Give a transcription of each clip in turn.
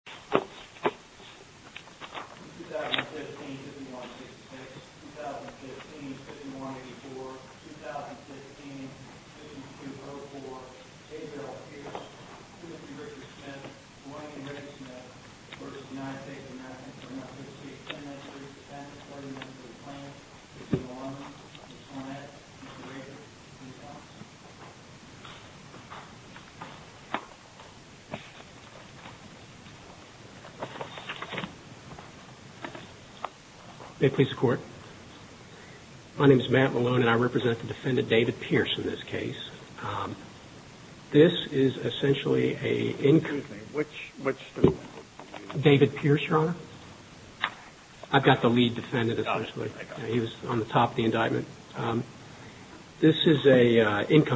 2015-51-66, 2015-51-84, 2015-52-04, A. Gerald Pierce, V. Richard Smith, I. Henry Smith, I. Matt Malone, and I represent the defendant, David Pierce, in this case. This is essentially a income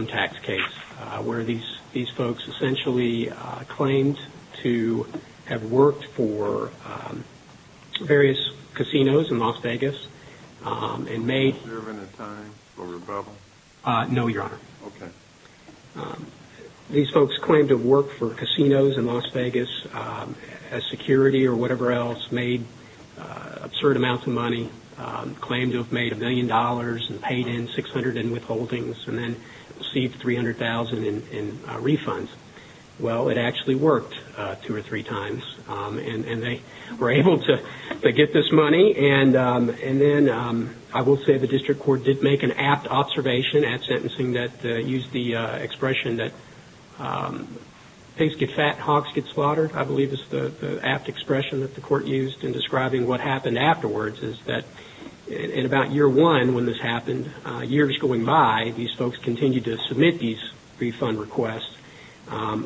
tax case where these folks essentially claimed to have worked for various casinos in Las Vegas and made absurd amounts of money, claimed to have made $1,000,000 and paid in $600,000 in were able to get this money. And then I will say the district court did make an apt observation at sentencing that used the expression that pigs get fat, hogs get slaughtered, I believe is the apt expression that the court used in describing what happened afterwards, is that in about year one when this happened, years going by, these folks continued to submit these refund requests,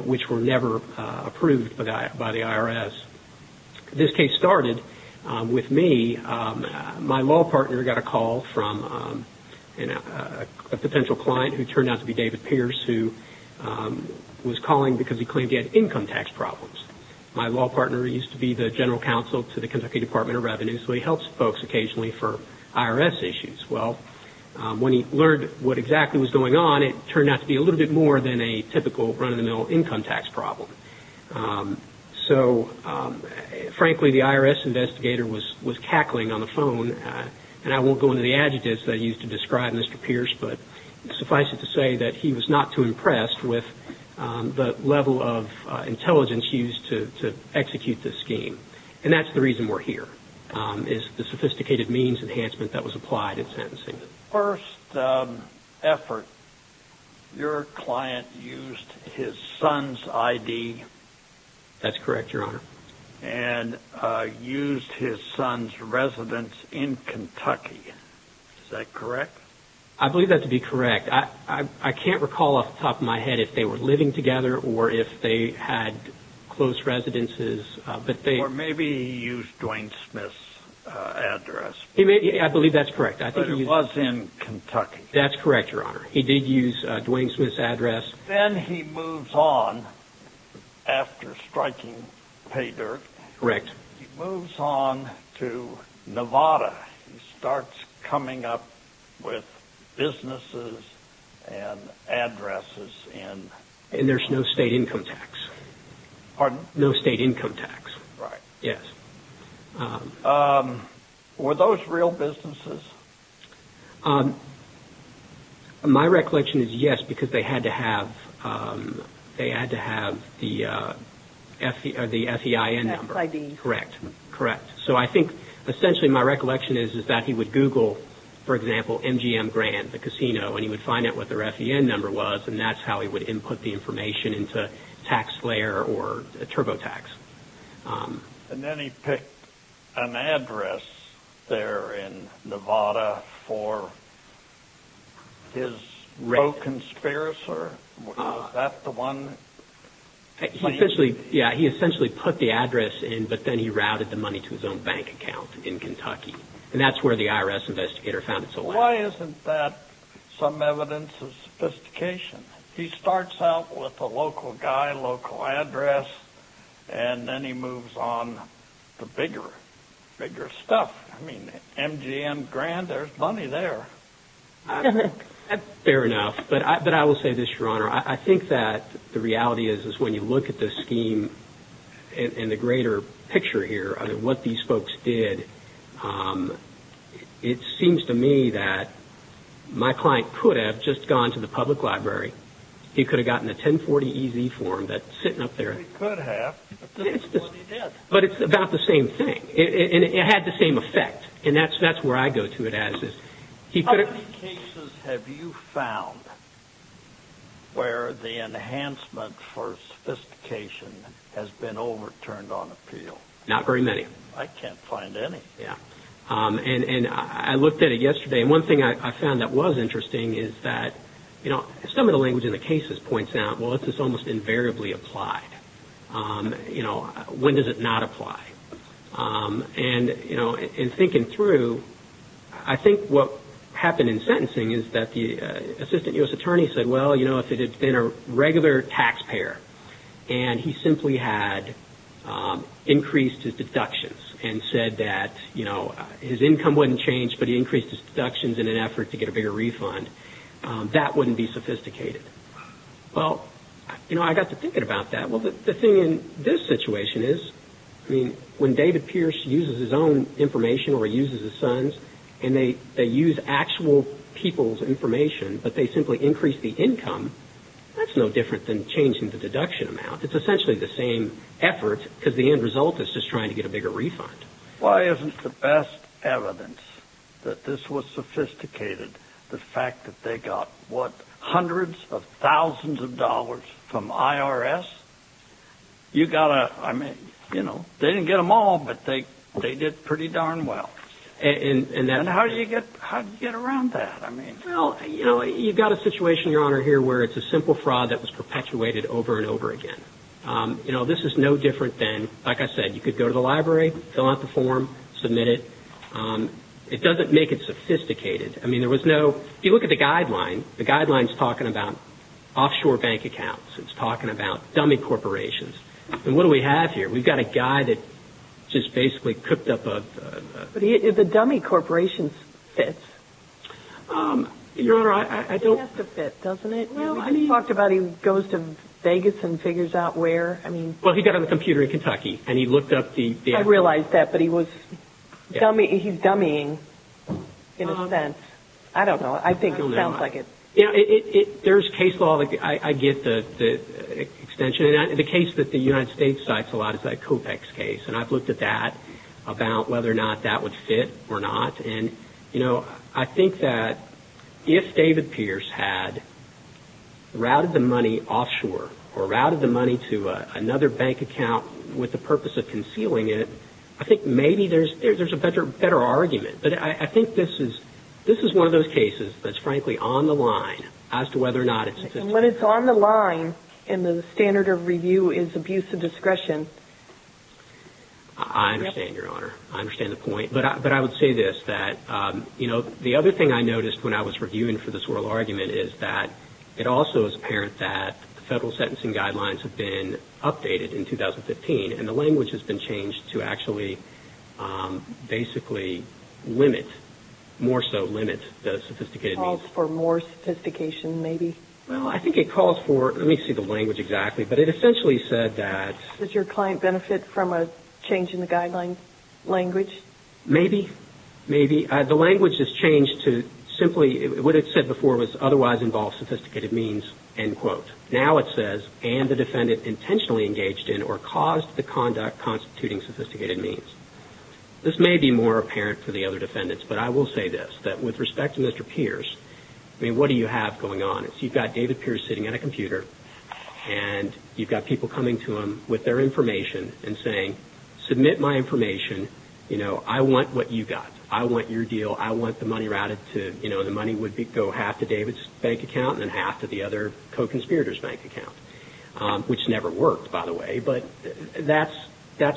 which were never approved by the IRS. This case started with me. My law partner got a call from a potential client who turned out to be David Pierce, who was calling because he claimed to have income tax problems. My law partner used to be the general counsel to the Kentucky Department of Justice, and he used to talk to folks occasionally for IRS issues. Well, when he learned what exactly was going on, it turned out to be a little bit more than a typical run-of-the-mill income tax problem. So, frankly, the IRS investigator was cackling on the phone, and I won't go into the adjectives that he used to describe Mr. Pierce, but suffice it to say that he was not too impressed with the level of intelligence used to execute this scheme. And that's the reason we're here, is the sophisticated means enhancement that was applied in sentencing. The first effort, your client used his son's I.D. That's correct, Your Honor. And used his son's residence in Kentucky. Is that correct? I believe that to be correct. I can't recall off the top of my head if they were living together or if they had close residences, but they Or maybe he used Dwayne Smith's address. I believe that's correct. But it was in Kentucky. That's correct, Your Honor. He did use Dwayne Smith's address. Then he moves on after striking pay dirt. Correct. He moves on to Nevada. He starts coming up with businesses and addresses in And there's no state income tax. Pardon? No state income tax. Right. Yes. Were those real businesses? My recollection is yes, because they had to have the F.E.I.N. number. F.E.I.D. Correct. Correct. So I think essentially my recollection is that he would Google, for example, MGM Grand, the casino, and he would find out what their F.E.I.N. number was, and that's how he would input the information into TaxSlayer or TurboTax. And then he picked an address there in Nevada for his co-conspirator? Was that the one? He essentially put the address in, but then he routed the money to his own bank account in Kentucky. And that's where the IRS investigator found it. Why isn't that some evidence of sophistication? He starts out with a local guy, local address, and then he moves on to bigger stuff. I mean, MGM Grand, there's money there. Fair enough. But I will say this, Your Honor. I think that the reality is when you look at this scheme in the greater picture here, what these folks did, it seems to me that my client could have just gone to the public library. He could have gotten a 1040EZ form that's sitting up there. He could have, but this is what he did. But it's about the same thing, and it had the same effect, and that's where I go to it as is. How many cases have you found where the enhancement for sophistication has been overturned on appeal? Not very many. I can't find any. Yeah. And I looked at it yesterday, and one thing I found that was interesting is that, you know, some of the language in the cases points out, well, it's almost invariably applied. You know, when does it not apply? And, you know, in thinking through, I think what happened in sentencing is that the assistant U.S. attorney said, Well, you know, if it had been a regular taxpayer and he simply had increased his deductions and said that, you know, his income wouldn't change, but he increased his deductions in an effort to get a bigger refund, that wouldn't be sophisticated. Well, you know, I got to thinking about that. Well, the thing in this situation is, I mean, when David Pierce uses his own information or uses his son's, and they use actual people's information, but they simply increase the income, that's no different than changing the deduction amount. It's essentially the same effort because the end result is just trying to get a bigger refund. Why isn't the best evidence that this was sophisticated, the fact that they got, what, hundreds of thousands of dollars from IRS? You've got to, I mean, you know, they didn't get them all, but they did pretty darn well. And how did you get around that? Well, you know, you've got a situation, Your Honor, here where it's a simple fraud that was perpetuated over and over again. You know, this is no different than, like I said, you could go to the library, fill out the form, submit it. It doesn't make it sophisticated. I mean, there was no, if you look at the guideline, the guideline's talking about offshore bank accounts. It's talking about dummy corporations. And what do we have here? We've got a guy that just basically cooked up a... But the dummy corporation fits. Your Honor, I don't... It has to fit, doesn't it? Well, I mean... We talked about he goes to Vegas and figures out where. I mean... Well, he got on the computer in Kentucky and he looked up the... I realize that, but he was dummy, he's dummying, in a sense. I don't know. I think it sounds like it... I don't know. You know, there's case law. I get the extension. And the case that the United States cites a lot is that COPEX case. And I've looked at that about whether or not that would fit or not. And, you know, I think that if David Pierce had routed the money offshore or routed the money to another bank account with the purpose of concealing it, I think maybe there's a better argument. But I think this is one of those cases that's frankly on the line as to whether or not it's... And when it's on the line and the standard of review is abuse of discretion... I understand, Your Honor. I understand the point. But I would say this, that, you know, the other thing I noticed when I was reviewing for this oral argument is that it also is apparent that the federal sentencing guidelines have been updated in 2015, and the language has been changed to actually basically limit, more so limit the sophisticated means. Calls for more sophistication maybe. Well, I think it calls for... Let me see the language exactly. But it essentially said that... Does your client benefit from a change in the guidelines language? Maybe. Maybe. What it said before was otherwise involve sophisticated means, end quote. Now it says, end the defendant intentionally engaged in or caused the conduct constituting sophisticated means. This may be more apparent for the other defendants, but I will say this, that with respect to Mr. Pierce, I mean, what do you have going on? You've got David Pierce sitting at a computer, and you've got people coming to him with their information and saying, submit my information, you know, I want what you got. I want your deal. I want the money routed to, you know, the money would go half to David's bank account and half to the other co-conspirator's bank account, which never worked, by the way. But that's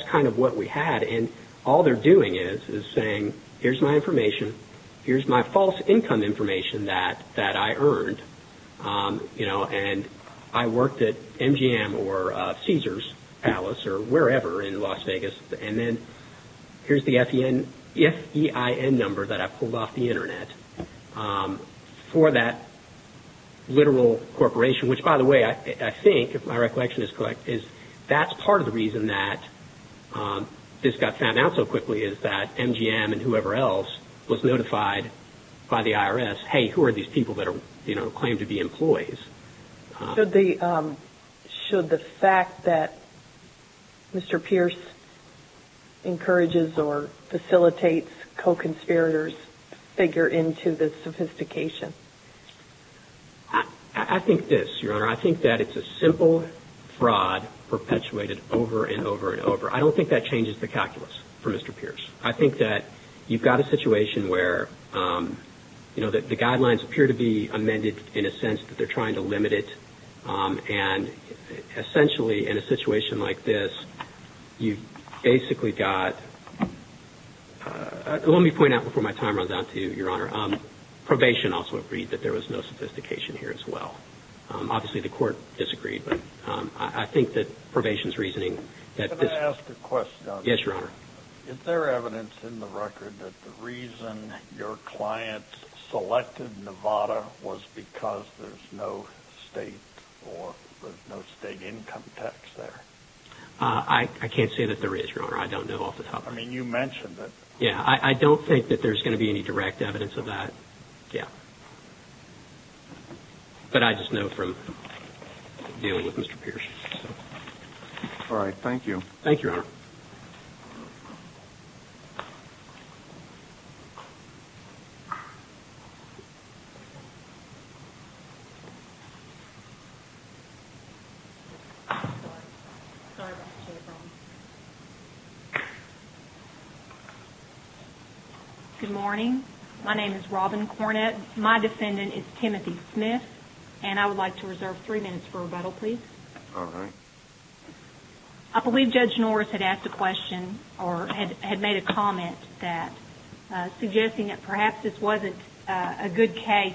kind of what we had, and all they're doing is saying, here's my information, here's my false income information that I earned, you know, and I worked at MGM or Caesars Palace or wherever in Las Vegas, and then here's the FEIN number that I pulled off the Internet for that literal corporation, which, by the way, I think, if my recollection is correct, is that's part of the reason that this got found out so quickly is that MGM and whoever else was notified by the IRS, hey, who are these people that are, you know, claimed to be employees. Should the fact that Mr. Pierce encourages or facilitates co-conspirators figure into this sophistication? I think this, Your Honor. I think that it's a simple fraud perpetuated over and over and over. I don't think that changes the calculus for Mr. Pierce. I think that you've got a situation where, you know, the guidelines appear to be amended in a sense that they're trying to limit it, and essentially, in a situation like this, you've basically got, let me point out before my time runs out to you, Your Honor, probation also agreed that there was no sophistication here as well. Obviously, the court disagreed, but I think that probation's reasoning that this. Can I ask a question? Yes, Your Honor. Is there evidence in the record that the reason your clients selected Nevada was because there's no state or there's no state income tax there? I can't say that there is, Your Honor. I don't know off the top of my head. I mean, you mentioned it. Yeah. I don't think that there's going to be any direct evidence of that. Yeah. But I just know from dealing with Mr. Pierce. All right. Thank you. Thank you, Your Honor. Good morning. My name is Robin Cornett. My defendant is Timothy Smith, and I would like to reserve three minutes for rebuttal, please. All right. I believe Judge Norris had asked a question or had made a comment suggesting that perhaps this wasn't a good case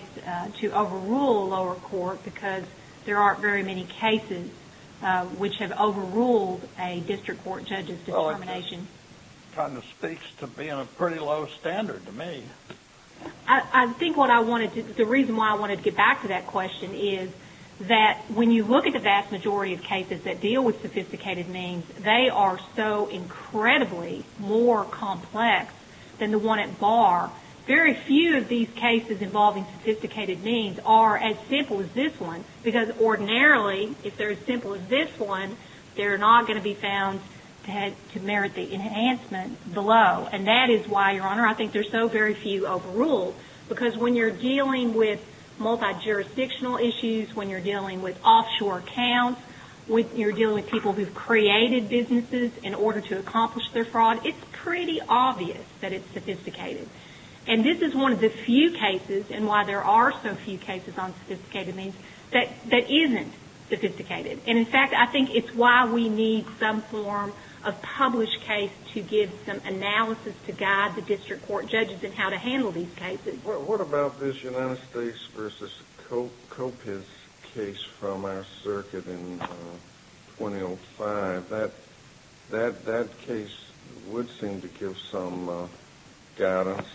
to overrule a lower court because there aren't very many cases which have overruled a district court judge's determination. Well, it kind of speaks to being a pretty low standard to me. I think what I wanted to – the reason why I wanted to get back to that question is that when you look at the vast majority of cases that deal with sophisticated means, they are so incredibly more complex than the one at bar. Very few of these cases involving sophisticated means are as simple as this one because ordinarily, if they're as simple as this one, they're not going to be found to merit the enhancement below. And that is why, Your Honor, I think there's so very few overruled because when you're dealing with multi-jurisdictional issues, when you're dealing with offshore accounts, when you're dealing with people who've created businesses in order to accomplish their fraud, it's pretty obvious that it's sophisticated. And this is one of the few cases, and why there are so few cases on sophisticated means, that isn't sophisticated. And, in fact, I think it's why we need some form of published case to give some analysis to guide the district court judges in how to handle these cases. What about this United States v. Coppice case from our circuit in 2005? That case would seem to give some guidance,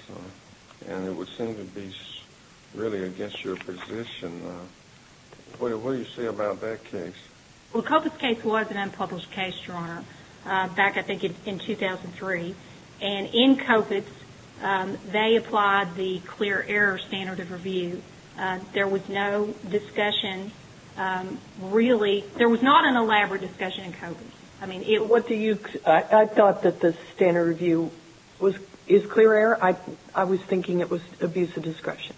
and it would seem to be really against your position. What do you say about that case? Well, Coppice case was an unpublished case, Your Honor. Back, I think, in 2003. And in Coppice, they applied the clear error standard of review. There was no discussion, really. There was not an elaborate discussion in Coppice. I mean, it was- What do you- I thought that the standard review was- is clear error. I was thinking it was abuse of discretion.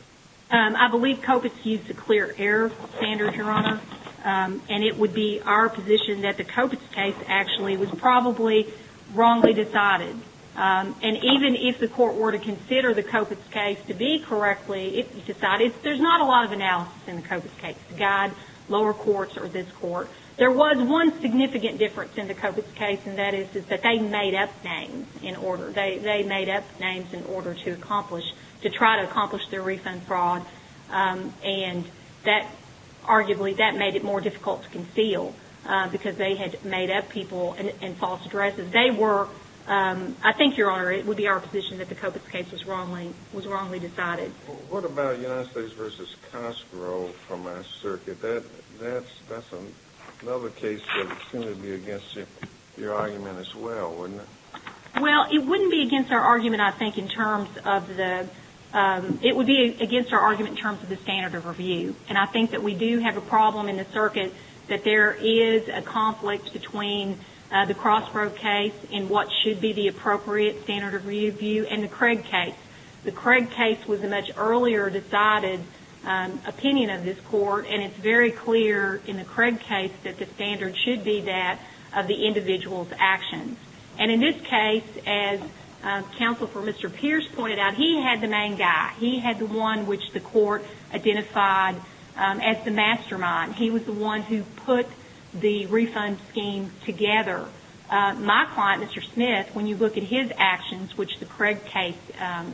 I believe Coppice used the clear error standard, Your Honor. And it would be our position that the Coppice case actually was probably wrongly decided. And even if the court were to consider the Coppice case to be correctly decided, there's not a lot of analysis in the Coppice case to guide lower courts or this court. There was one significant difference in the Coppice case, and that is that they made up names in order- they made up names in order to accomplish- to try to accomplish their refund fraud. And that- arguably, that made it more difficult to conceal because they had made up people and false addresses. They were- I think, Your Honor, it would be our position that the Coppice case was wrongly decided. What about United States v. Castro from our circuit? That's another case that would seem to be against your argument as well, wouldn't it? Well, it wouldn't be against our argument, I think, in terms of the- it would be against our argument in terms of the standard of review. And I think that we do have a problem in the circuit that there is a conflict between the Crossbrook case and what should be the appropriate standard of review and the Craig case. The Craig case was a much earlier decided opinion of this court, and it's very clear in the Craig case that the standard should be that of the individual's actions. And in this case, as Counsel for Mr. Pierce pointed out, he had the main guy. He had the one which the court identified as the mastermind. He was the one who put the refund scheme together. My client, Mr. Smith, when you look at his actions, which the Craig case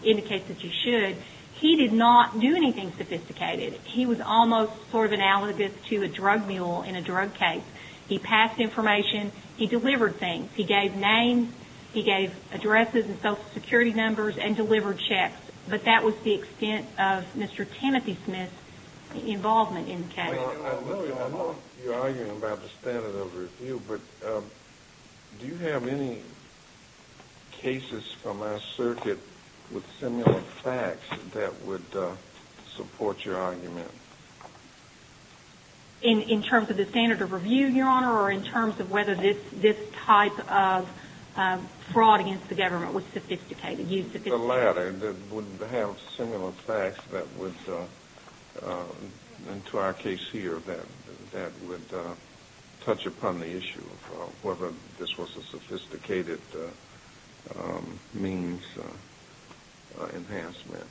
indicates that you should, he did not do anything sophisticated. He was almost sort of analogous to a drug mule in a drug case. He passed information. He delivered things. He gave names. He gave addresses and Social Security numbers and delivered checks. But that was the extent of Mr. Timothy Smith's involvement in the case. I know you're arguing about the standard of review, but do you have any cases from our circuit with similar facts that would support your argument? In terms of the standard of review, Your Honor, or in terms of whether this type of fraud against the government was sophisticated? The latter that would have similar facts that would, and to our case here, that would touch upon the issue of whether this was a sophisticated means enhancement.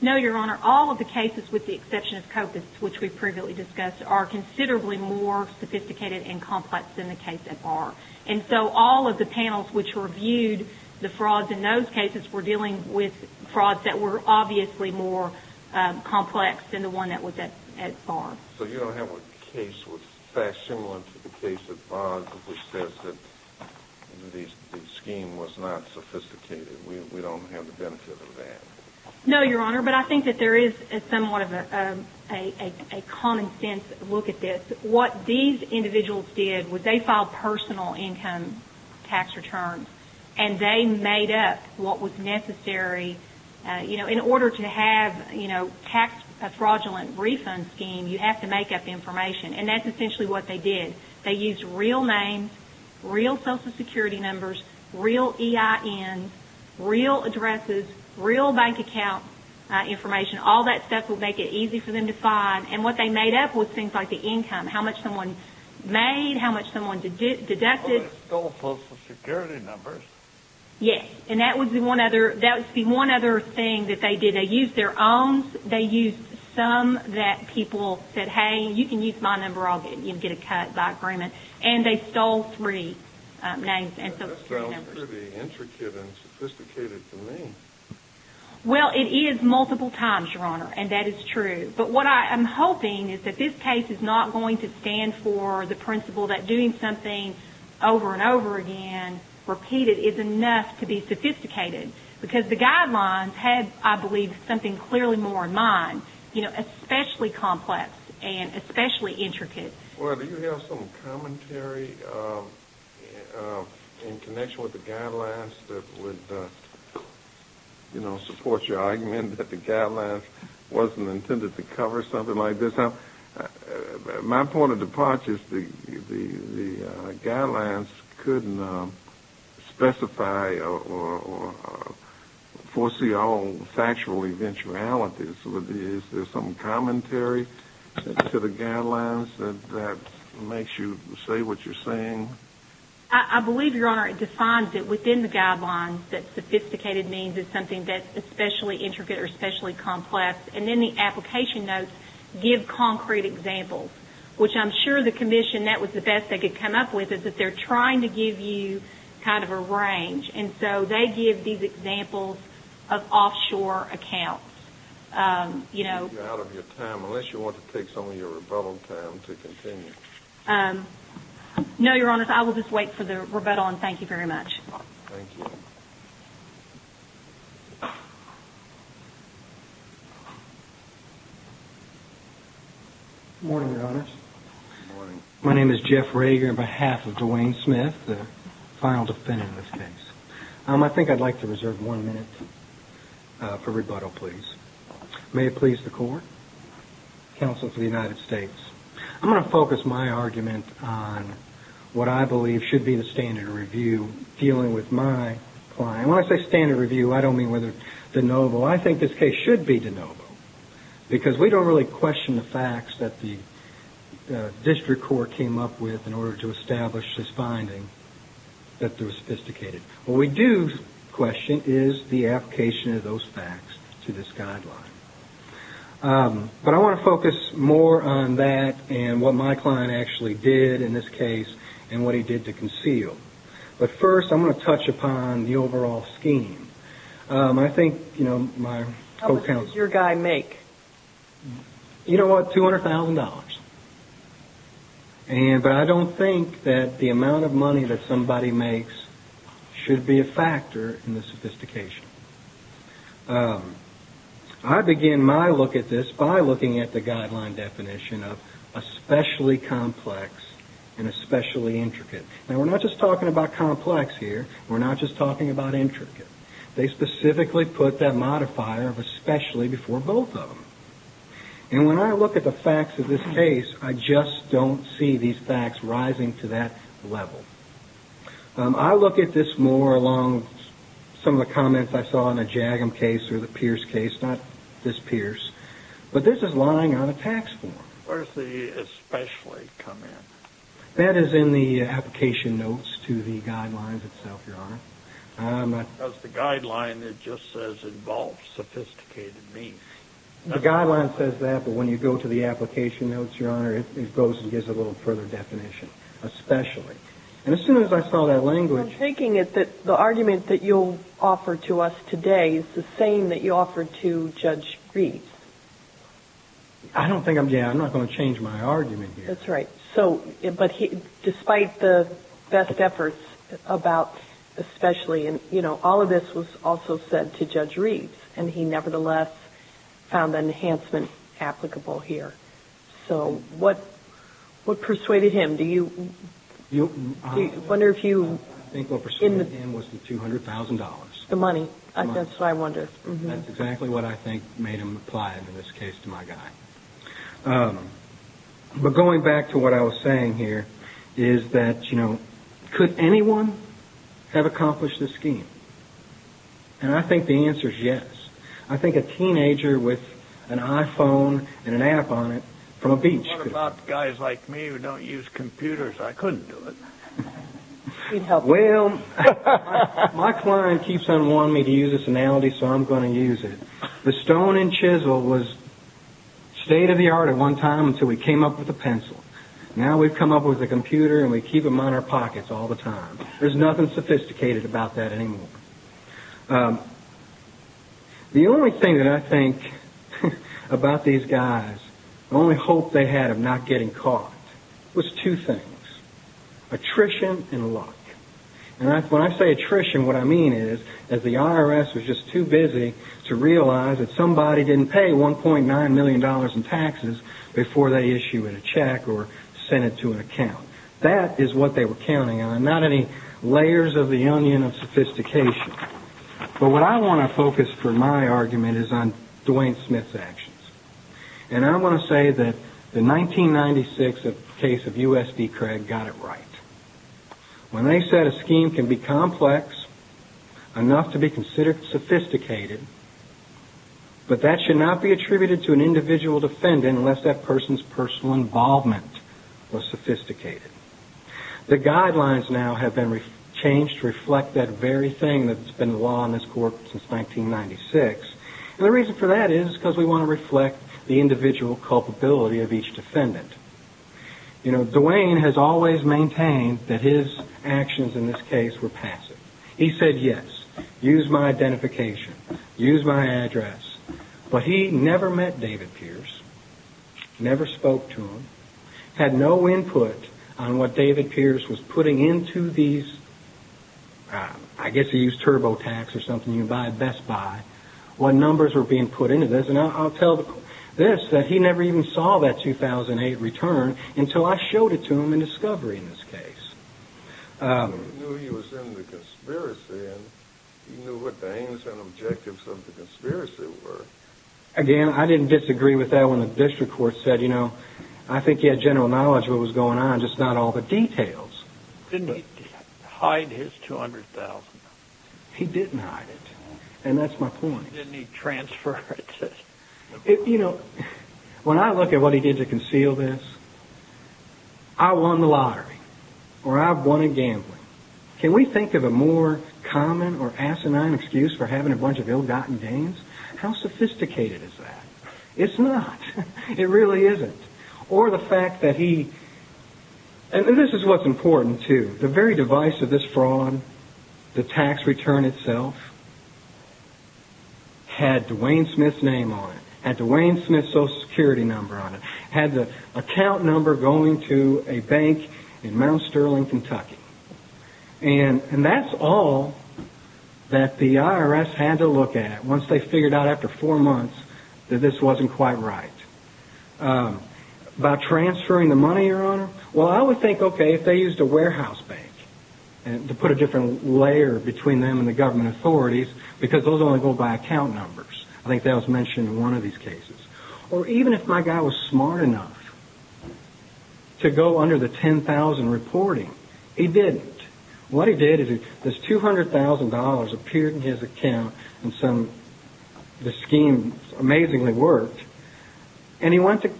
No, Your Honor. All of the cases with the exception of COPUS, which we previously discussed, are considerably more sophisticated and complex than the case at Barr. And so all of the panels which reviewed the frauds in those cases were dealing with frauds that were obviously more complex than the one that was at Barr. So you don't have a case with facts similar to the case at Barr, which says that the scheme was not sophisticated. We don't have the benefit of that. No, Your Honor. But I think that there is somewhat of a common sense look at this. What these individuals did was they filed personal income tax returns, and they made up what was necessary. You know, in order to have, you know, a fraudulent refund scheme, you have to make up information. And that's essentially what they did. They used real names, real Social Security numbers, real EINs, real addresses, real bank account information. All that stuff would make it easy for them to find. And what they made up was things like the income, how much someone made, how much someone deducted. Oh, they stole Social Security numbers. Yes. And that would be one other thing that they did. They used their own. They used some that people said, hey, you can use my number. I'll get a cut by agreement. And they stole three names and Social Security numbers. That sounds pretty intricate and sophisticated to me. Well, it is multiple times, Your Honor, and that is true. But what I am hoping is that this case is not going to stand for the principle that doing something over and over again, repeated, is enough to be sophisticated. Because the guidelines had, I believe, something clearly more in mind, you know, especially complex and especially intricate. Well, do you have some commentary in connection with the guidelines that would, you know, support your argument that the guidelines wasn't intended to cover something like this? My point of departure is the guidelines couldn't specify or foresee all factual eventualities. Is there some commentary to the guidelines that makes you say what you're saying? I believe, Your Honor, it defines it within the guidelines that sophisticated means it's something that's especially intricate or especially complex. And then the application notes give concrete examples, which I'm sure the Commission, that was the best they could come up with, is that they're trying to give you kind of a range. And so they give these examples of offshore accounts. You know... You're out of your time unless you want to take some of your rebuttal time to continue. No, Your Honor. I will just wait for the rebuttal and thank you very much. Good morning, Your Honor. Good morning. My name is Jeff Rager on behalf of Dwayne Smith, the final defendant in this case. I think I'd like to reserve one minute for rebuttal, please. May it please the Court. Counsel for the United States. I'm going to focus my argument on what I believe should be the standard review dealing with my client. When I say standard review, I don't mean whether de novo. I think this case should be de novo, because we don't really question the facts that the district court came up with in order to establish this finding that they were sophisticated. What we do question is the application of those facts to this guideline. But I want to focus more on that and what my client actually did in this case and what he did to conceal. But first, I'm going to touch upon the overall scheme. I think my co-counsel... How much does your guy make? You know what, $200,000. But I don't think that the amount of money that somebody makes should be a factor in the sophistication. I begin my look at this by looking at the guideline definition of especially complex and especially intricate. Now, we're not just talking about complex here. We're not just talking about intricate. They specifically put that modifier of especially before both of them. And when I look at the facts of this case, I just don't see these facts rising to that level. I look at this more along some of the comments I saw in the Jagum case or the Pierce case, not this Pierce. But this is lying on a tax form. Where does the especially come in? That is in the application notes to the guidelines itself, Your Honor. Because the guideline, it just says, involves sophisticated means. The guideline says that, but when you go to the application notes, Your Honor, it goes and gives a little further definition, especially. And as soon as I saw that language... I'm taking it that the argument that you'll offer to us today is the same that you offered to Judge Greene. I don't think I'm going to change my argument here. That's right. But despite the best efforts about especially, and all of this was also said to Judge Reeves, and he nevertheless found an enhancement applicable here. So what persuaded him? Do you wonder if you... I think what persuaded him was the $200,000. The money. That's what I wonder. That's exactly what I think made him apply it in this case to my guy. But going back to what I was saying here is that, you know, could anyone have accomplished this scheme? And I think the answer is yes. I think a teenager with an iPhone and an app on it from a beach could have. What about guys like me who don't use computers? I couldn't do it. Well, my client keeps on wanting me to use this analogy, so I'm going to use it. The stone and chisel was state of the art at one time until we came up with a pencil. Now we've come up with a computer and we keep them in our pockets all the time. There's nothing sophisticated about that anymore. The only thing that I think about these guys, the only hope they had of not getting caught, was two things, attrition and luck. And when I say attrition, what I mean is that the IRS was just too busy to realize that somebody didn't pay $1.9 million in taxes before they issued a check or sent it to an account. That is what they were counting on, not any layers of the onion of sophistication. But what I want to focus for my argument is on Dwayne Smith's actions. And I want to say that the 1996 case of U.S.D. Craig got it right. When they said a scheme can be complex enough to be considered sophisticated, but that should not be attributed to an individual defendant unless that person's personal involvement was sophisticated. The guidelines now have been changed to reflect that very thing that's been the law in this court since 1996. And the reason for that is because we want to reflect the individual culpability of each defendant. You know, Dwayne has always maintained that his actions in this case were passive. He said, yes, use my identification, use my address. But he never met David Pierce, never spoke to him, had no input on what David Pierce was putting into these, I guess he used TurboTax or something, Best Buy, what numbers were being put into this. And I'll tell this, that he never even saw that 2008 return until I showed it to him in discovery in this case. Again, I didn't disagree with that when the district court said, you know, I think he had general knowledge of what was going on, just not all the details. He didn't hide it, and that's my point. You know, when I look at what he did to conceal this, I won the lottery, or I won at gambling. Can we think of a more common or asinine excuse for having a bunch of ill-gotten gains? How sophisticated is that? It's not. It really isn't. Or the fact that he, and this is what's important too, the very device of this fraud, the tax return itself, had Dwayne Smith's name on it, had Dwayne Smith's Social Security number on it, had the account number going to a bank in Mount Sterling, Kentucky. And that's all that the IRS had to look at once they figured out after four months that this wasn't quite right. Well, I would think, okay, if they used a warehouse bank to put a different layer between them and the government authorities, because those only go by account numbers. I think that was mentioned in one of these cases. Or even if my guy was smart enough to go under the $10,000 reporting, he didn't. What he did is this $200,000 appeared in his account, and the scheme amazingly worked, and he went to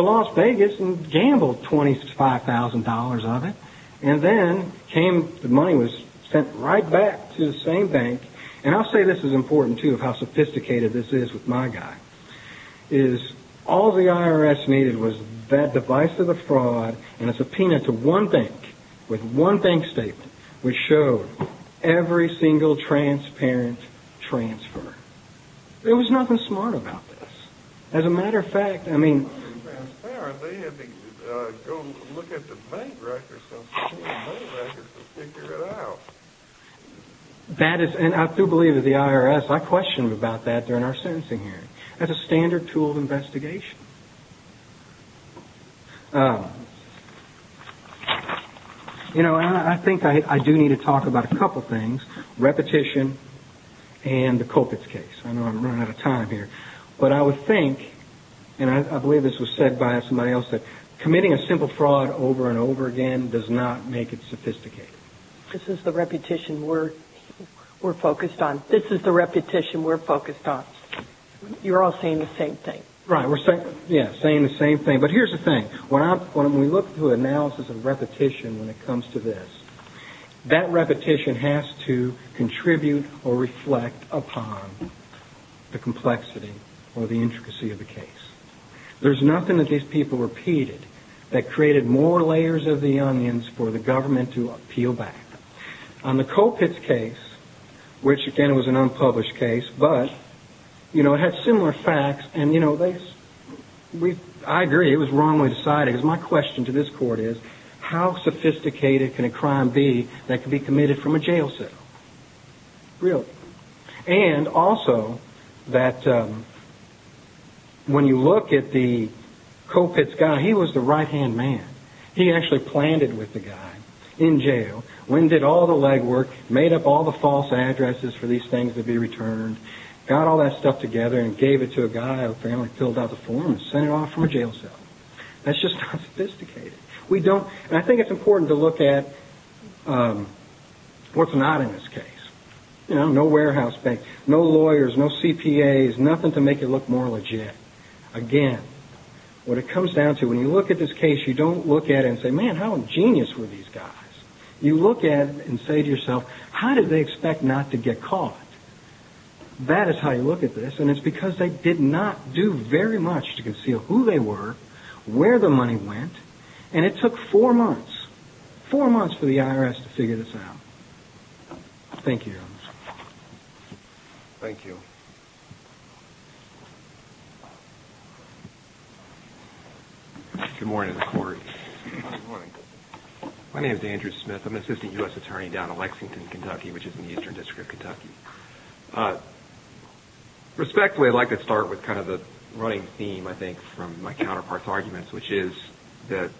Las Vegas and gambled $25,000 of it. And then the money was sent right back to the same bank. And I'll say this is important too of how sophisticated this is with my guy, is all the IRS needed was that device of the fraud and a subpoena to one bank with one bank statement which showed every single transparent transfer. There was nothing smart about this. As a matter of fact, I mean... They had to go look at the bank records to figure it out. That is, and I do believe that the IRS, I questioned about that during our sentencing hearing. That's a standard tool of investigation. You know, I think I do need to talk about a couple things. Repetition and the Kulpitz case. I know I'm running out of time here. But I would think, and I believe this was said by somebody else, that committing a simple fraud over and over again does not make it sophisticated. This is the repetition we're focused on. This is the repetition we're focused on. You're all saying the same thing. Right, we're saying the same thing. But here's the thing. When we look to analysis of repetition when it comes to this, that repetition has to contribute or reflect upon the complexity or the intricacy of the case. There's nothing that these people repeated that created more layers of the onions for the government to appeal back. On the Kulpitz case, which again was an unpublished case, but it had similar facts and I agree it was wrongly decided. Because my question to this court is, how sophisticated can a crime be that can be committed from a jail cell? Really. And also that when you look at the Kulpitz guy, he was the right-hand man. He actually planned it with the guy in jail, winded all the legwork, made up all the false addresses for these things to be returned, got all that stuff together and gave it to a guy who apparently filled out the form and sent it off from a jail cell. That's just not sophisticated. And I think it's important to look at what's not in this case. No warehouse bank, no lawyers, no CPAs, nothing to make it look more legit. Again, what it comes down to, when you look at this case, you don't look at it and say, man, how ingenious were these guys. You look at it and say to yourself, how did they expect not to get caught? That is how you look at this. And it's because they did not do very much to conceal who they were, where the money went, and it took four months, four months for the IRS to figure this out. Thank you. Thank you. Good morning to the court. Good morning. My name is Andrew Smith. I'm an assistant U.S. attorney down in Lexington, Kentucky, which is in the Eastern District of Kentucky. Respectfully, I'd like to start with kind of the running theme, I think, from my counterpart's arguments, which is that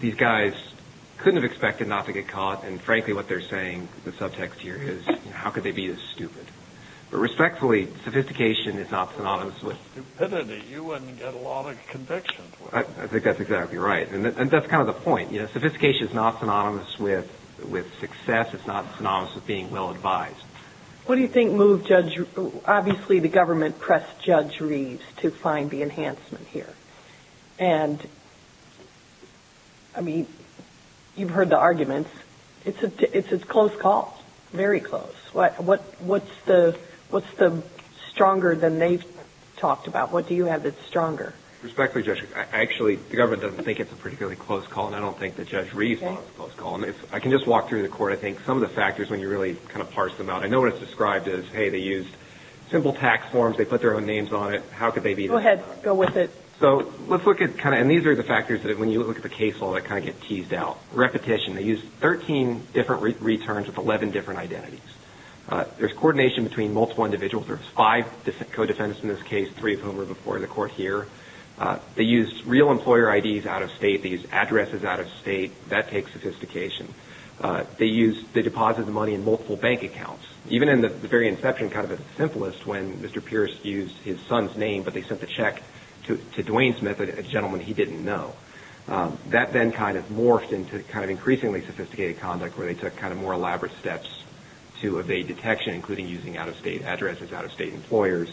these guys couldn't have expected not to get caught, and frankly what they're saying, the subtext here is, how could they be this stupid? But respectfully, sophistication is not synonymous with stupidity. You wouldn't get a lot of conviction. I think that's exactly right. And that's kind of the point. Sophistication is not synonymous with success. It's not synonymous with being well advised. What do you think moved Judge Reeves? Obviously the government pressed Judge Reeves to find the enhancement here. And, I mean, you've heard the arguments. It's a close call, very close. What's the stronger than they've talked about? What do you have that's stronger? Respectfully, Judge, I actually, the government doesn't think it's a particularly close call, and I don't think that Judge Reeves wants a close call. I can just walk through the court. I think some of the factors, when you really kind of parse them out, I know what it's described as, hey, they used simple tax forms, they put their own names on it. How could they be this stupid? Go ahead. Go with it. So let's look at kind of, and these are the factors that, when you look at the case law, that kind of get teased out. Repetition, they used 13 different returns with 11 different identities. There's coordination between multiple individuals. There's five co-defendants in this case, three of whom were before the court here. They used real employer IDs out-of-state. They used addresses out-of-state. That takes sophistication. They used, they deposited the money in multiple bank accounts. Even in the very inception, kind of at the simplest, when Mr. Pierce used his son's name, but they sent the check to Duane Smith, a gentleman he didn't know. That then kind of morphed into kind of increasingly sophisticated conduct, where they took kind of more elaborate steps to evade detection, including using out-of-state addresses, out-of-state employers.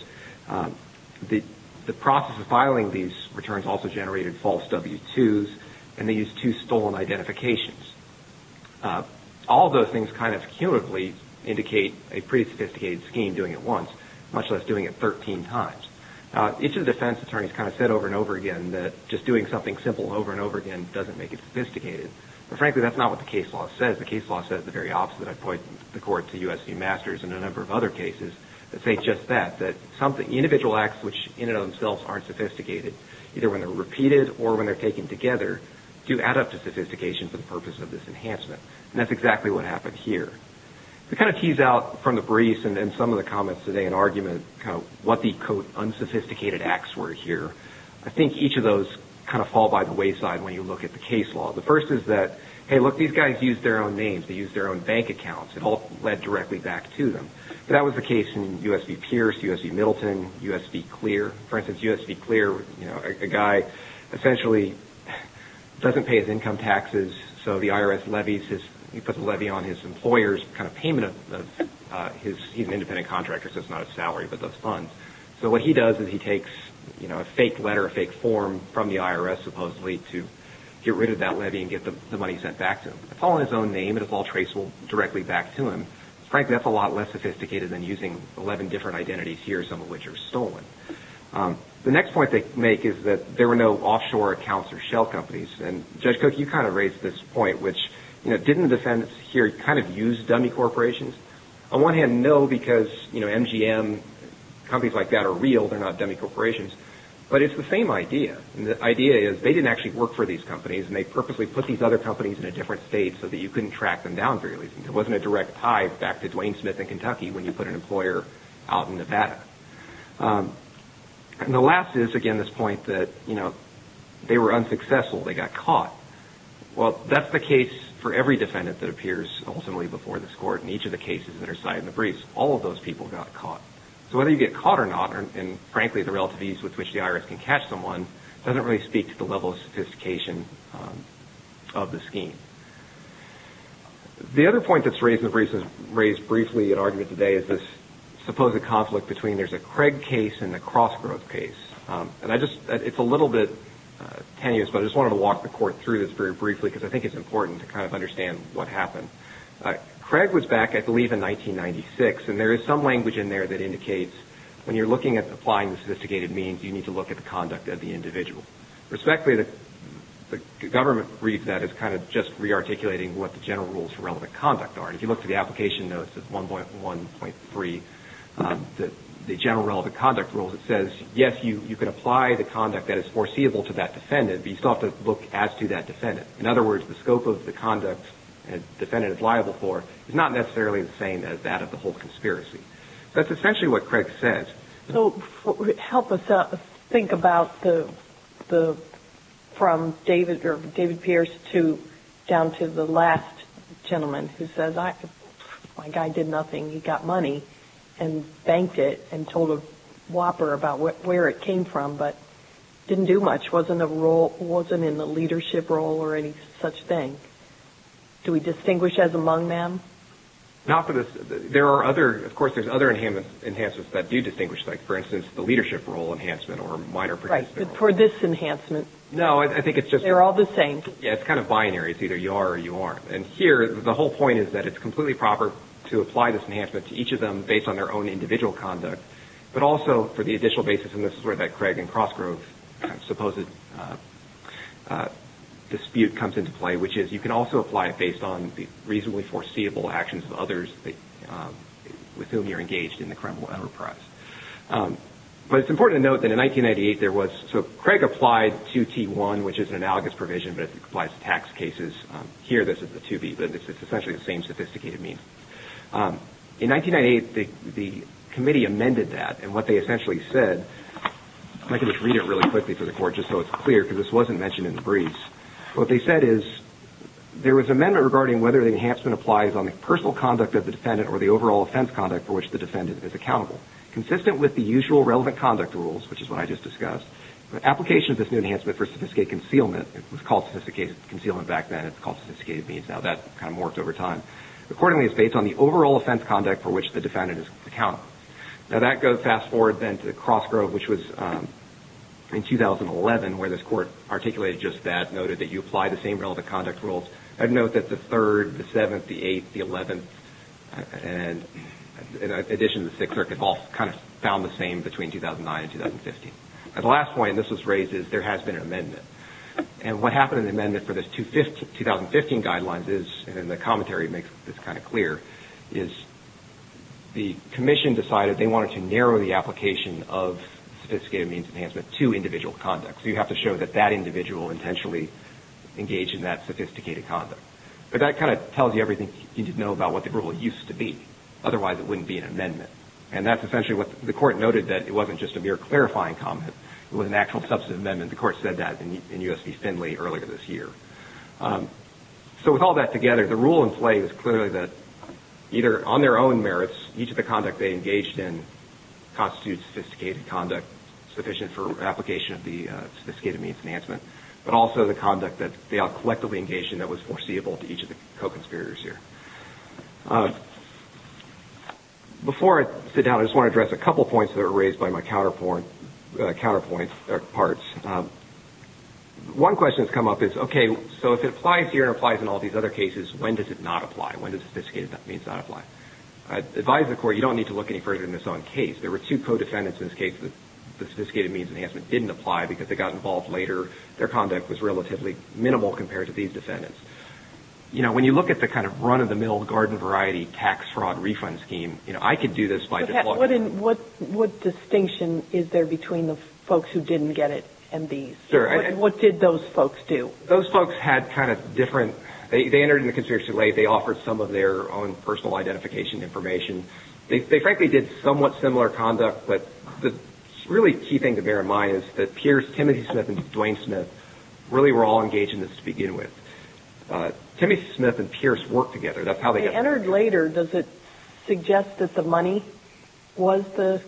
The process of filing these returns also generated false W-2s, and they used two stolen identifications. All of those things kind of cumulatively indicate a pretty sophisticated scheme doing it once, much less doing it 13 times. Now, each of the defense attorneys kind of said over and over again that just doing something simple over and over again doesn't make it sophisticated. But frankly, that's not what the case law says. The case law says the very opposite. I point the court to USC Masters and a number of other cases that say just that, that individual acts which in and of themselves aren't sophisticated, either when they're repeated or when they're taken together, do add up to sophistication for the purpose of this enhancement. And that's exactly what happened here. To kind of tease out from the briefs and some of the comments today in argument kind of what the unsophisticated acts were here, I think each of those kind of fall by the wayside when you look at the case law. The first is that, hey, look, these guys used their own names. They used their own bank accounts. It all led directly back to them. That was the case in U.S.P. Pierce, U.S.P. Middleton, U.S.P. Clear. For instance, U.S.P. Clear, you know, a guy essentially doesn't pay his income taxes, so the IRS levies his – he puts a levy on his employer's kind of payment of his – he's an independent contractor so it's not his salary but those funds. So what he does is he takes, you know, a fake letter, a fake form from the IRS supposedly to get rid of that levy and get the money sent back to him. It's all in his own name and it's all traceable directly back to him. Frankly, that's a lot less sophisticated than using 11 different identities here, some of which are stolen. The next point they make is that there were no offshore accounts or shell companies. And Judge Cook, you kind of raised this point, which, you know, didn't the defendants here kind of use dummy corporations? On one hand, no, because, you know, MGM, companies like that are real. They're not dummy corporations. But it's the same idea, and the idea is they didn't actually work for these companies and they purposely put these other companies in a different state so that you couldn't track them down for your reasons. There wasn't a direct tie back to Dwayne Smith in Kentucky when you put an employer out in Nevada. And the last is, again, this point that, you know, they were unsuccessful. They got caught. Well, that's the case for every defendant that appears ultimately before this court in each of the cases that are cited in the briefs. All of those people got caught. So whether you get caught or not, and frankly the relative ease with which the IRS can catch someone, doesn't really speak to the level of sophistication of the scheme. The other point that's raised briefly in argument today is this supposed conflict between there's a Craig case and a cross-growth case. And it's a little bit tenuous, but I just wanted to walk the court through this very briefly because I think it's important to kind of understand what happened. Craig was back, I believe, in 1996, and there is some language in there that indicates when you're looking at applying the sophisticated means, you need to look at the conduct of the individual. Respectfully, the government reads that as kind of just re-articulating what the general rules for relevant conduct are. If you look to the application notes, 1.1.3, the general relevant conduct rules, it says, yes, you can apply the conduct that is foreseeable to that defendant, but you still have to look as to that defendant. In other words, the scope of the conduct a defendant is liable for is not necessarily the same as that of the whole conspiracy. That's essentially what Craig says. So help us think about from David Pierce down to the last gentleman who says, my guy did nothing. He got money and banked it and told a whopper about where it came from but didn't do much, wasn't in the leadership role or any such thing. Do we distinguish as among them? Not for this. There are other, of course, there's other enhancements that do distinguish. Like, for instance, the leadership role enhancement or minor participant role. For this enhancement. No, I think it's just... They're all the same. Yeah, it's kind of binary. It's either you are or you aren't. And here, the whole point is that it's completely proper to apply this enhancement to each of them based on their own individual conduct, but also for the additional basis, and this is where that Craig and Crossgrove supposed dispute comes into play, which is you can also apply it based on the reasonably foreseeable actions of others with whom you're engaged in the criminal enterprise. But it's important to note that in 1998, there was... So Craig applied 2T1, which is an analogous provision, but it applies to tax cases. Here, this is the 2B, but it's essentially the same sophisticated means. In 1998, the committee amended that, and what they essentially said... I can just read it really quickly for the court, just so it's clear, because this wasn't mentioned in the briefs. What they said is, there was an amendment regarding whether the enhancement applies on the personal conduct of the defendant or the overall offense conduct for which the defendant is accountable. Consistent with the usual relevant conduct rules, which is what I just discussed, the application of this new enhancement for sophisticated concealment... It was called sophisticated concealment back then. It's called sophisticated means now. That kind of morphed over time. Accordingly, it's based on the overall offense conduct for which the defendant is accountable. Now, that goes fast forward then to Crossgrove, which was in 2011, where this court articulated just that, noted that you apply the same relevant conduct rules. I'd note that the 3rd, the 7th, the 8th, the 11th, in addition to the 6th Circuit, all kind of found the same between 2009 and 2015. At the last point, this was raised, is there has been an amendment. And what happened in the amendment for the 2015 guidelines is, and the commentary makes this kind of clear, is the commission decided they wanted to narrow the application of sophisticated means enhancement to individual conduct. So you have to show that that individual intentionally engaged in that sophisticated conduct. But that kind of tells you everything you need to know about what the rule used to be. Otherwise, it wouldn't be an amendment. And that's essentially what the court noted, that it wasn't just a mere clarifying comment. It was an actual substantive amendment. The court said that in U.S. v. Finley earlier this year. So with all that together, the rule in play is clearly that either on their own merits, each of the conduct they engaged in constitutes sophisticated conduct, sufficient for application of the sophisticated means enhancement, but also the conduct that they all collectively engaged in that was foreseeable to each of the co-conspirators here. Before I sit down, I just want to address a couple points that were raised by my counterparts. One question that's come up is, okay, so if it applies here and it applies in all these other cases, when does it not apply? When does sophisticated means not apply? I advise the court, you don't need to look any further than this own case. There were two co-defendants in this case that the sophisticated means enhancement didn't apply because they got involved later. Their conduct was relatively minimal compared to these defendants. You know, when you look at the kind of run-of-the-mill, garden-variety, tax-fraud refund scheme, you know, I could do this by just looking at... What distinction is there between the folks who didn't get it and these? What did those folks do? Those folks had kind of different... They entered in the conspiracy late. They offered some of their own personal identification information. They frankly did somewhat similar conduct, but the really key thing to bear in mind is that Pierce, Timothy Smith, and Dwayne Smith really were all engaged in this to begin with. Timothy Smith and Pierce worked together. They entered later. Does it suggest that the money was the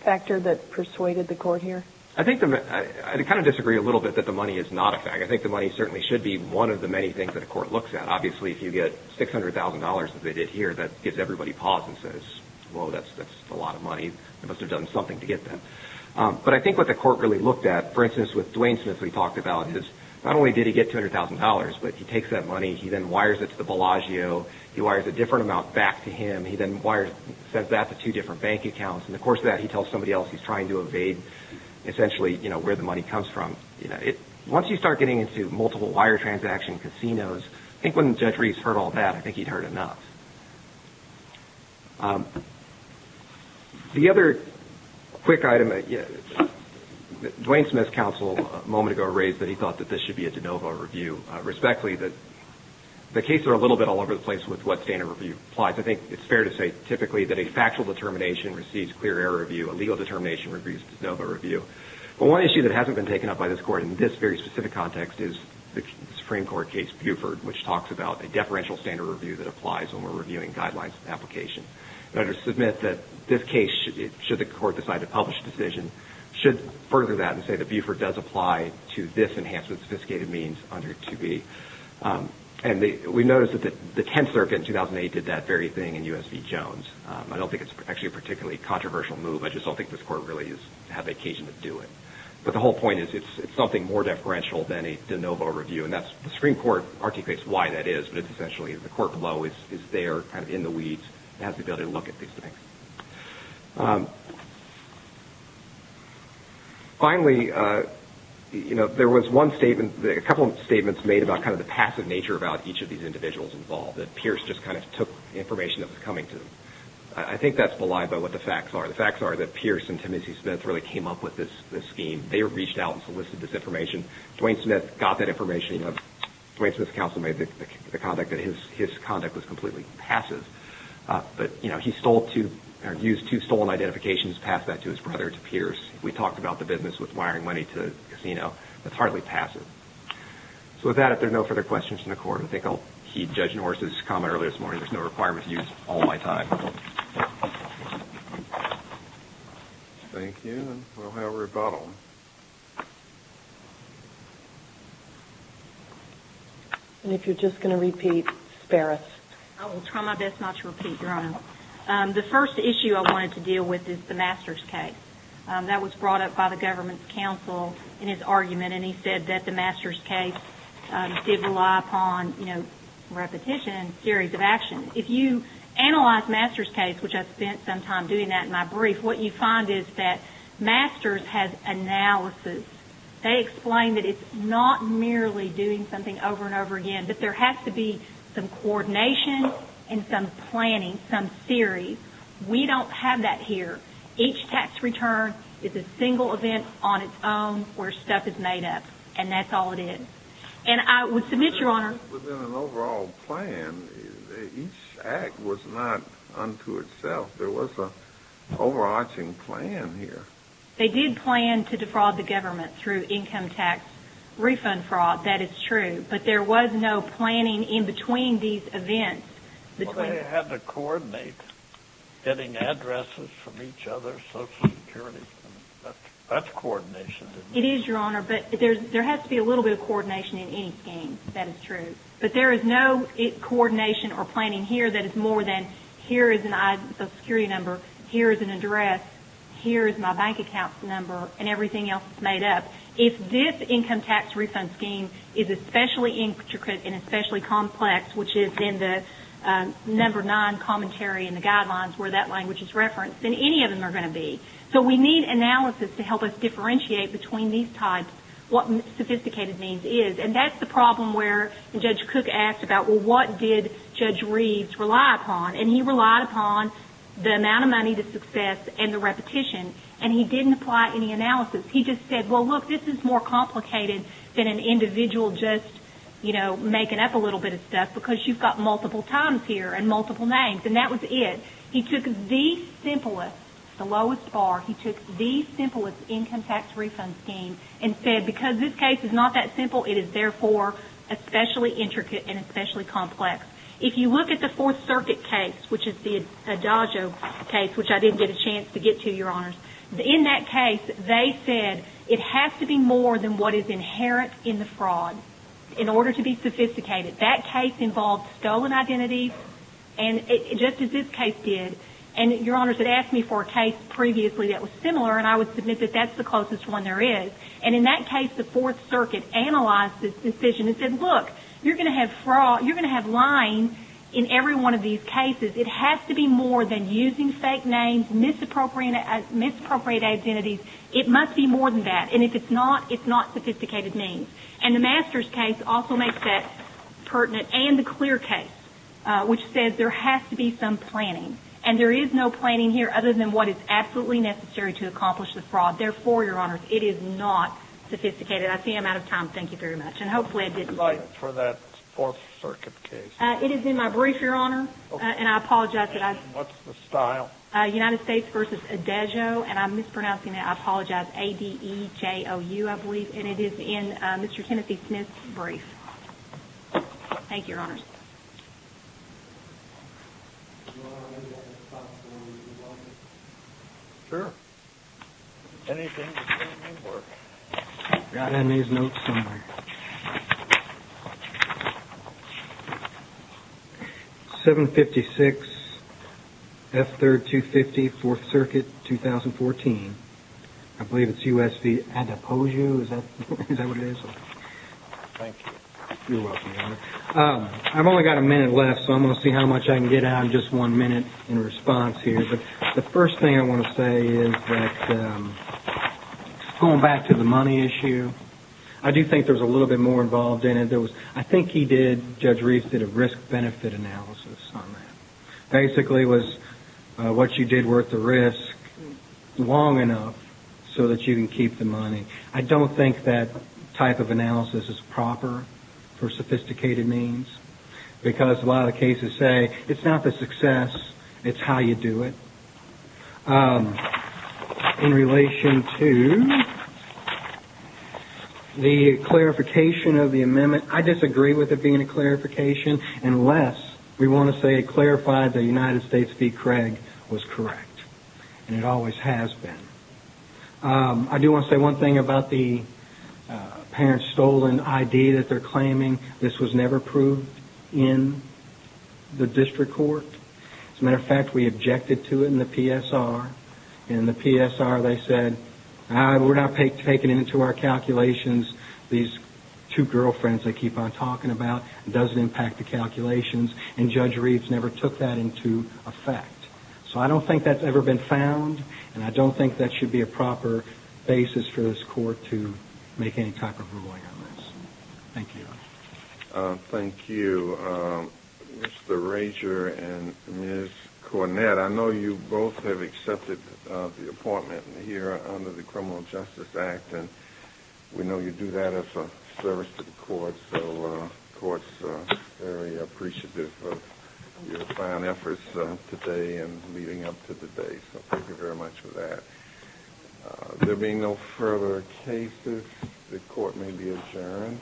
factor that persuaded the court here? I think the... I kind of disagree a little bit that the money is not a factor. I think the money certainly should be one of the many things that a court looks at. Obviously, if you get $600,000, as they did here, that gives everybody pause and says, whoa, that's a lot of money. They must have done something to get that. But I think what the court really looked at, for instance, with Dwayne Smith, we talked about his... Not only did he get $200,000, but he takes that money, he then wires it to the Bellagio. He wires a different amount back to him. He then sends that to two different bank accounts. In the course of that, he tells somebody else he's trying to evade, essentially, where the money comes from. Once you start getting into multiple wire transaction casinos, I think when Judge Reese heard all that, I think he'd heard enough. The other quick item that Dwayne Smith's counsel a moment ago raised, that he thought that this should be a de novo review. Respectfully, the cases are a little bit all over the place with what standard review applies. I think it's fair to say, typically, that a factual determination receives clear error review. A legal determination receives de novo review. But one issue that hasn't been taken up by this court in this very specific context is the Supreme Court case Buford, which talks about a deferential standard review that applies when we're reviewing guidelines and applications. I'd like to submit that this case, should the court decide to publish a decision, should further that and say that Buford does apply to this enhancement of sophisticated means under 2B. We noticed that the Tenth Circuit in 2008 did that very thing in U.S. v. Jones. I don't think it's actually a particularly controversial move. I just don't think this court really has the occasion to do it. But the whole point is it's something more deferential than a de novo review. The Supreme Court articulates why that is, but it's essentially the court below is there, kind of in the weeds, and has the ability to look at these things. Finally, you know, there was one statement, a couple of statements made about kind of the passive nature about each of these individuals involved, that Pierce just kind of took information that was coming to them. I think that's believable, what the facts are. The facts are that Pierce and Timothy Smith really came up with this scheme. They reached out and solicited this information. Dwayne Smith got that information. Dwayne Smith's counsel made the conduct that his conduct was completely passive. But, you know, he used two stolen identifications, passed that to his brother, to Pierce. We talked about the business with wiring money to the casino. That's hardly passive. So with that, if there are no further questions from the court, I think I'll heed Judge Norris's comment earlier this morning. There's no requirement to use all my time. Thank you. And we'll have rebuttal. And if you're just going to repeat, Sparris. I will try my best not to repeat, Your Honor. The first issue I wanted to deal with is the Masters case. That was brought up by the government's counsel in his argument, and he said that the Masters case did rely upon, you know, repetition and series of action. If you analyze Masters case, which I spent some time doing that in my brief, what you find is that Masters has analysis. They explain that it's not merely doing something over and over again, but there has to be some coordination and some planning, some series. We don't have that here. Each tax return is a single event on its own where stuff is made up, and that's all it is. And I would submit, Your Honor. Within an overall plan, each act was not unto itself. There was an overarching plan here. They did plan to defraud the government through income tax refund fraud. That is true. But there was no planning in between these events. Well, they had to coordinate getting addresses from each other, Social Security. That's coordination, isn't it? It is, Your Honor, but there has to be a little bit of coordination in any scheme. That is true. But there is no coordination or planning here that is more than here is a Social Security number, here is an address, here is my bank account number, and everything else is made up. If this income tax refund scheme is especially intricate and especially complex, which is in the number nine commentary in the guidelines where that language is referenced, then any of them are going to be. So we need analysis to help us differentiate between these types what sophisticated means is. And that's the problem where Judge Cook asked about, well, what did Judge Reeves rely upon? And he relied upon the amount of money, the success, and the repetition. And he didn't apply any analysis. He just said, well, look, this is more complicated than an individual just, you know, making up a little bit of stuff because you've got multiple times here and multiple names. And that was it. He took the simplest, the lowest bar, he took the simplest income tax refund scheme and said because this case is not that simple, it is therefore especially intricate and especially complex. If you look at the Fourth Circuit case, which is the Adagio case, which I didn't get a chance to get to, Your Honors, in that case they said it has to be more than what is inherent in the fraud in order to be sophisticated. That case involved stolen identities, just as this case did. And Your Honors had asked me for a case previously that was similar, and I would submit that that's the closest one there is. And in that case the Fourth Circuit analyzed this decision and said, look, you're going to have fraud, you're going to have lying in every one of these cases. It has to be more than using fake names, misappropriate identities. It must be more than that. And if it's not, it's not sophisticated means. And the Masters case also makes that pertinent, and the Clear case, which says there has to be some planning. And there is no planning here other than what is absolutely necessary to accomplish the fraud. Therefore, Your Honors, it is not sophisticated. I see I'm out of time. Thank you very much. And hopefully I didn't keep you. I'd like it for that Fourth Circuit case. It is in my brief, Your Honor, and I apologize that I – What's the style? United States v. Adagio, and I'm mispronouncing it. I apologize. A-D-E-J-O-U, I believe. And it is in Mr. Kennethy Smith's brief. Thank you, Your Honors. Your Honor, may I get a copy of the results? Sure. Anything you can't remember. I've got to have these notes somewhere. 756 F-3250, Fourth Circuit, 2014. I believe it's U.S. v. Adagio. Is that what it is? Thank you. You're welcome, Your Honor. I've only got a minute left, so I'm going to see how much I can get out in just one minute in response here. But the first thing I want to say is that going back to the money issue, I do think there's a little bit more involved in it. I think he did – Judge Reeves did a risk-benefit analysis on that. Basically, it was what you did worth the risk long enough so that you can keep the money. I don't think that type of analysis is proper for sophisticated means because a lot of cases say it's not the success, it's how you do it. In relation to the clarification of the amendment, I disagree with it being a clarification unless we want to say it clarified the United States v. Craig was correct. And it always has been. I do want to say one thing about the parents' stolen ID that they're claiming. This was never proved in the district court. As a matter of fact, we objected to it in the PSR. In the PSR, they said, we're not taking it into our calculations. These two girlfriends they keep on talking about. It doesn't impact the calculations. And Judge Reeves never took that into effect. So I don't think that's ever been found, and I don't think that should be a proper basis for this court to make any type of ruling on this. Thank you. Thank you, Mr. Rager and Ms. Cornett. I know you both have accepted the appointment here under the Criminal Justice Act, and we know you do that as a service to the court, so the court is very appreciative of your fine efforts today and leading up to today. So thank you very much for that. There being no further cases, the court may be adjourned.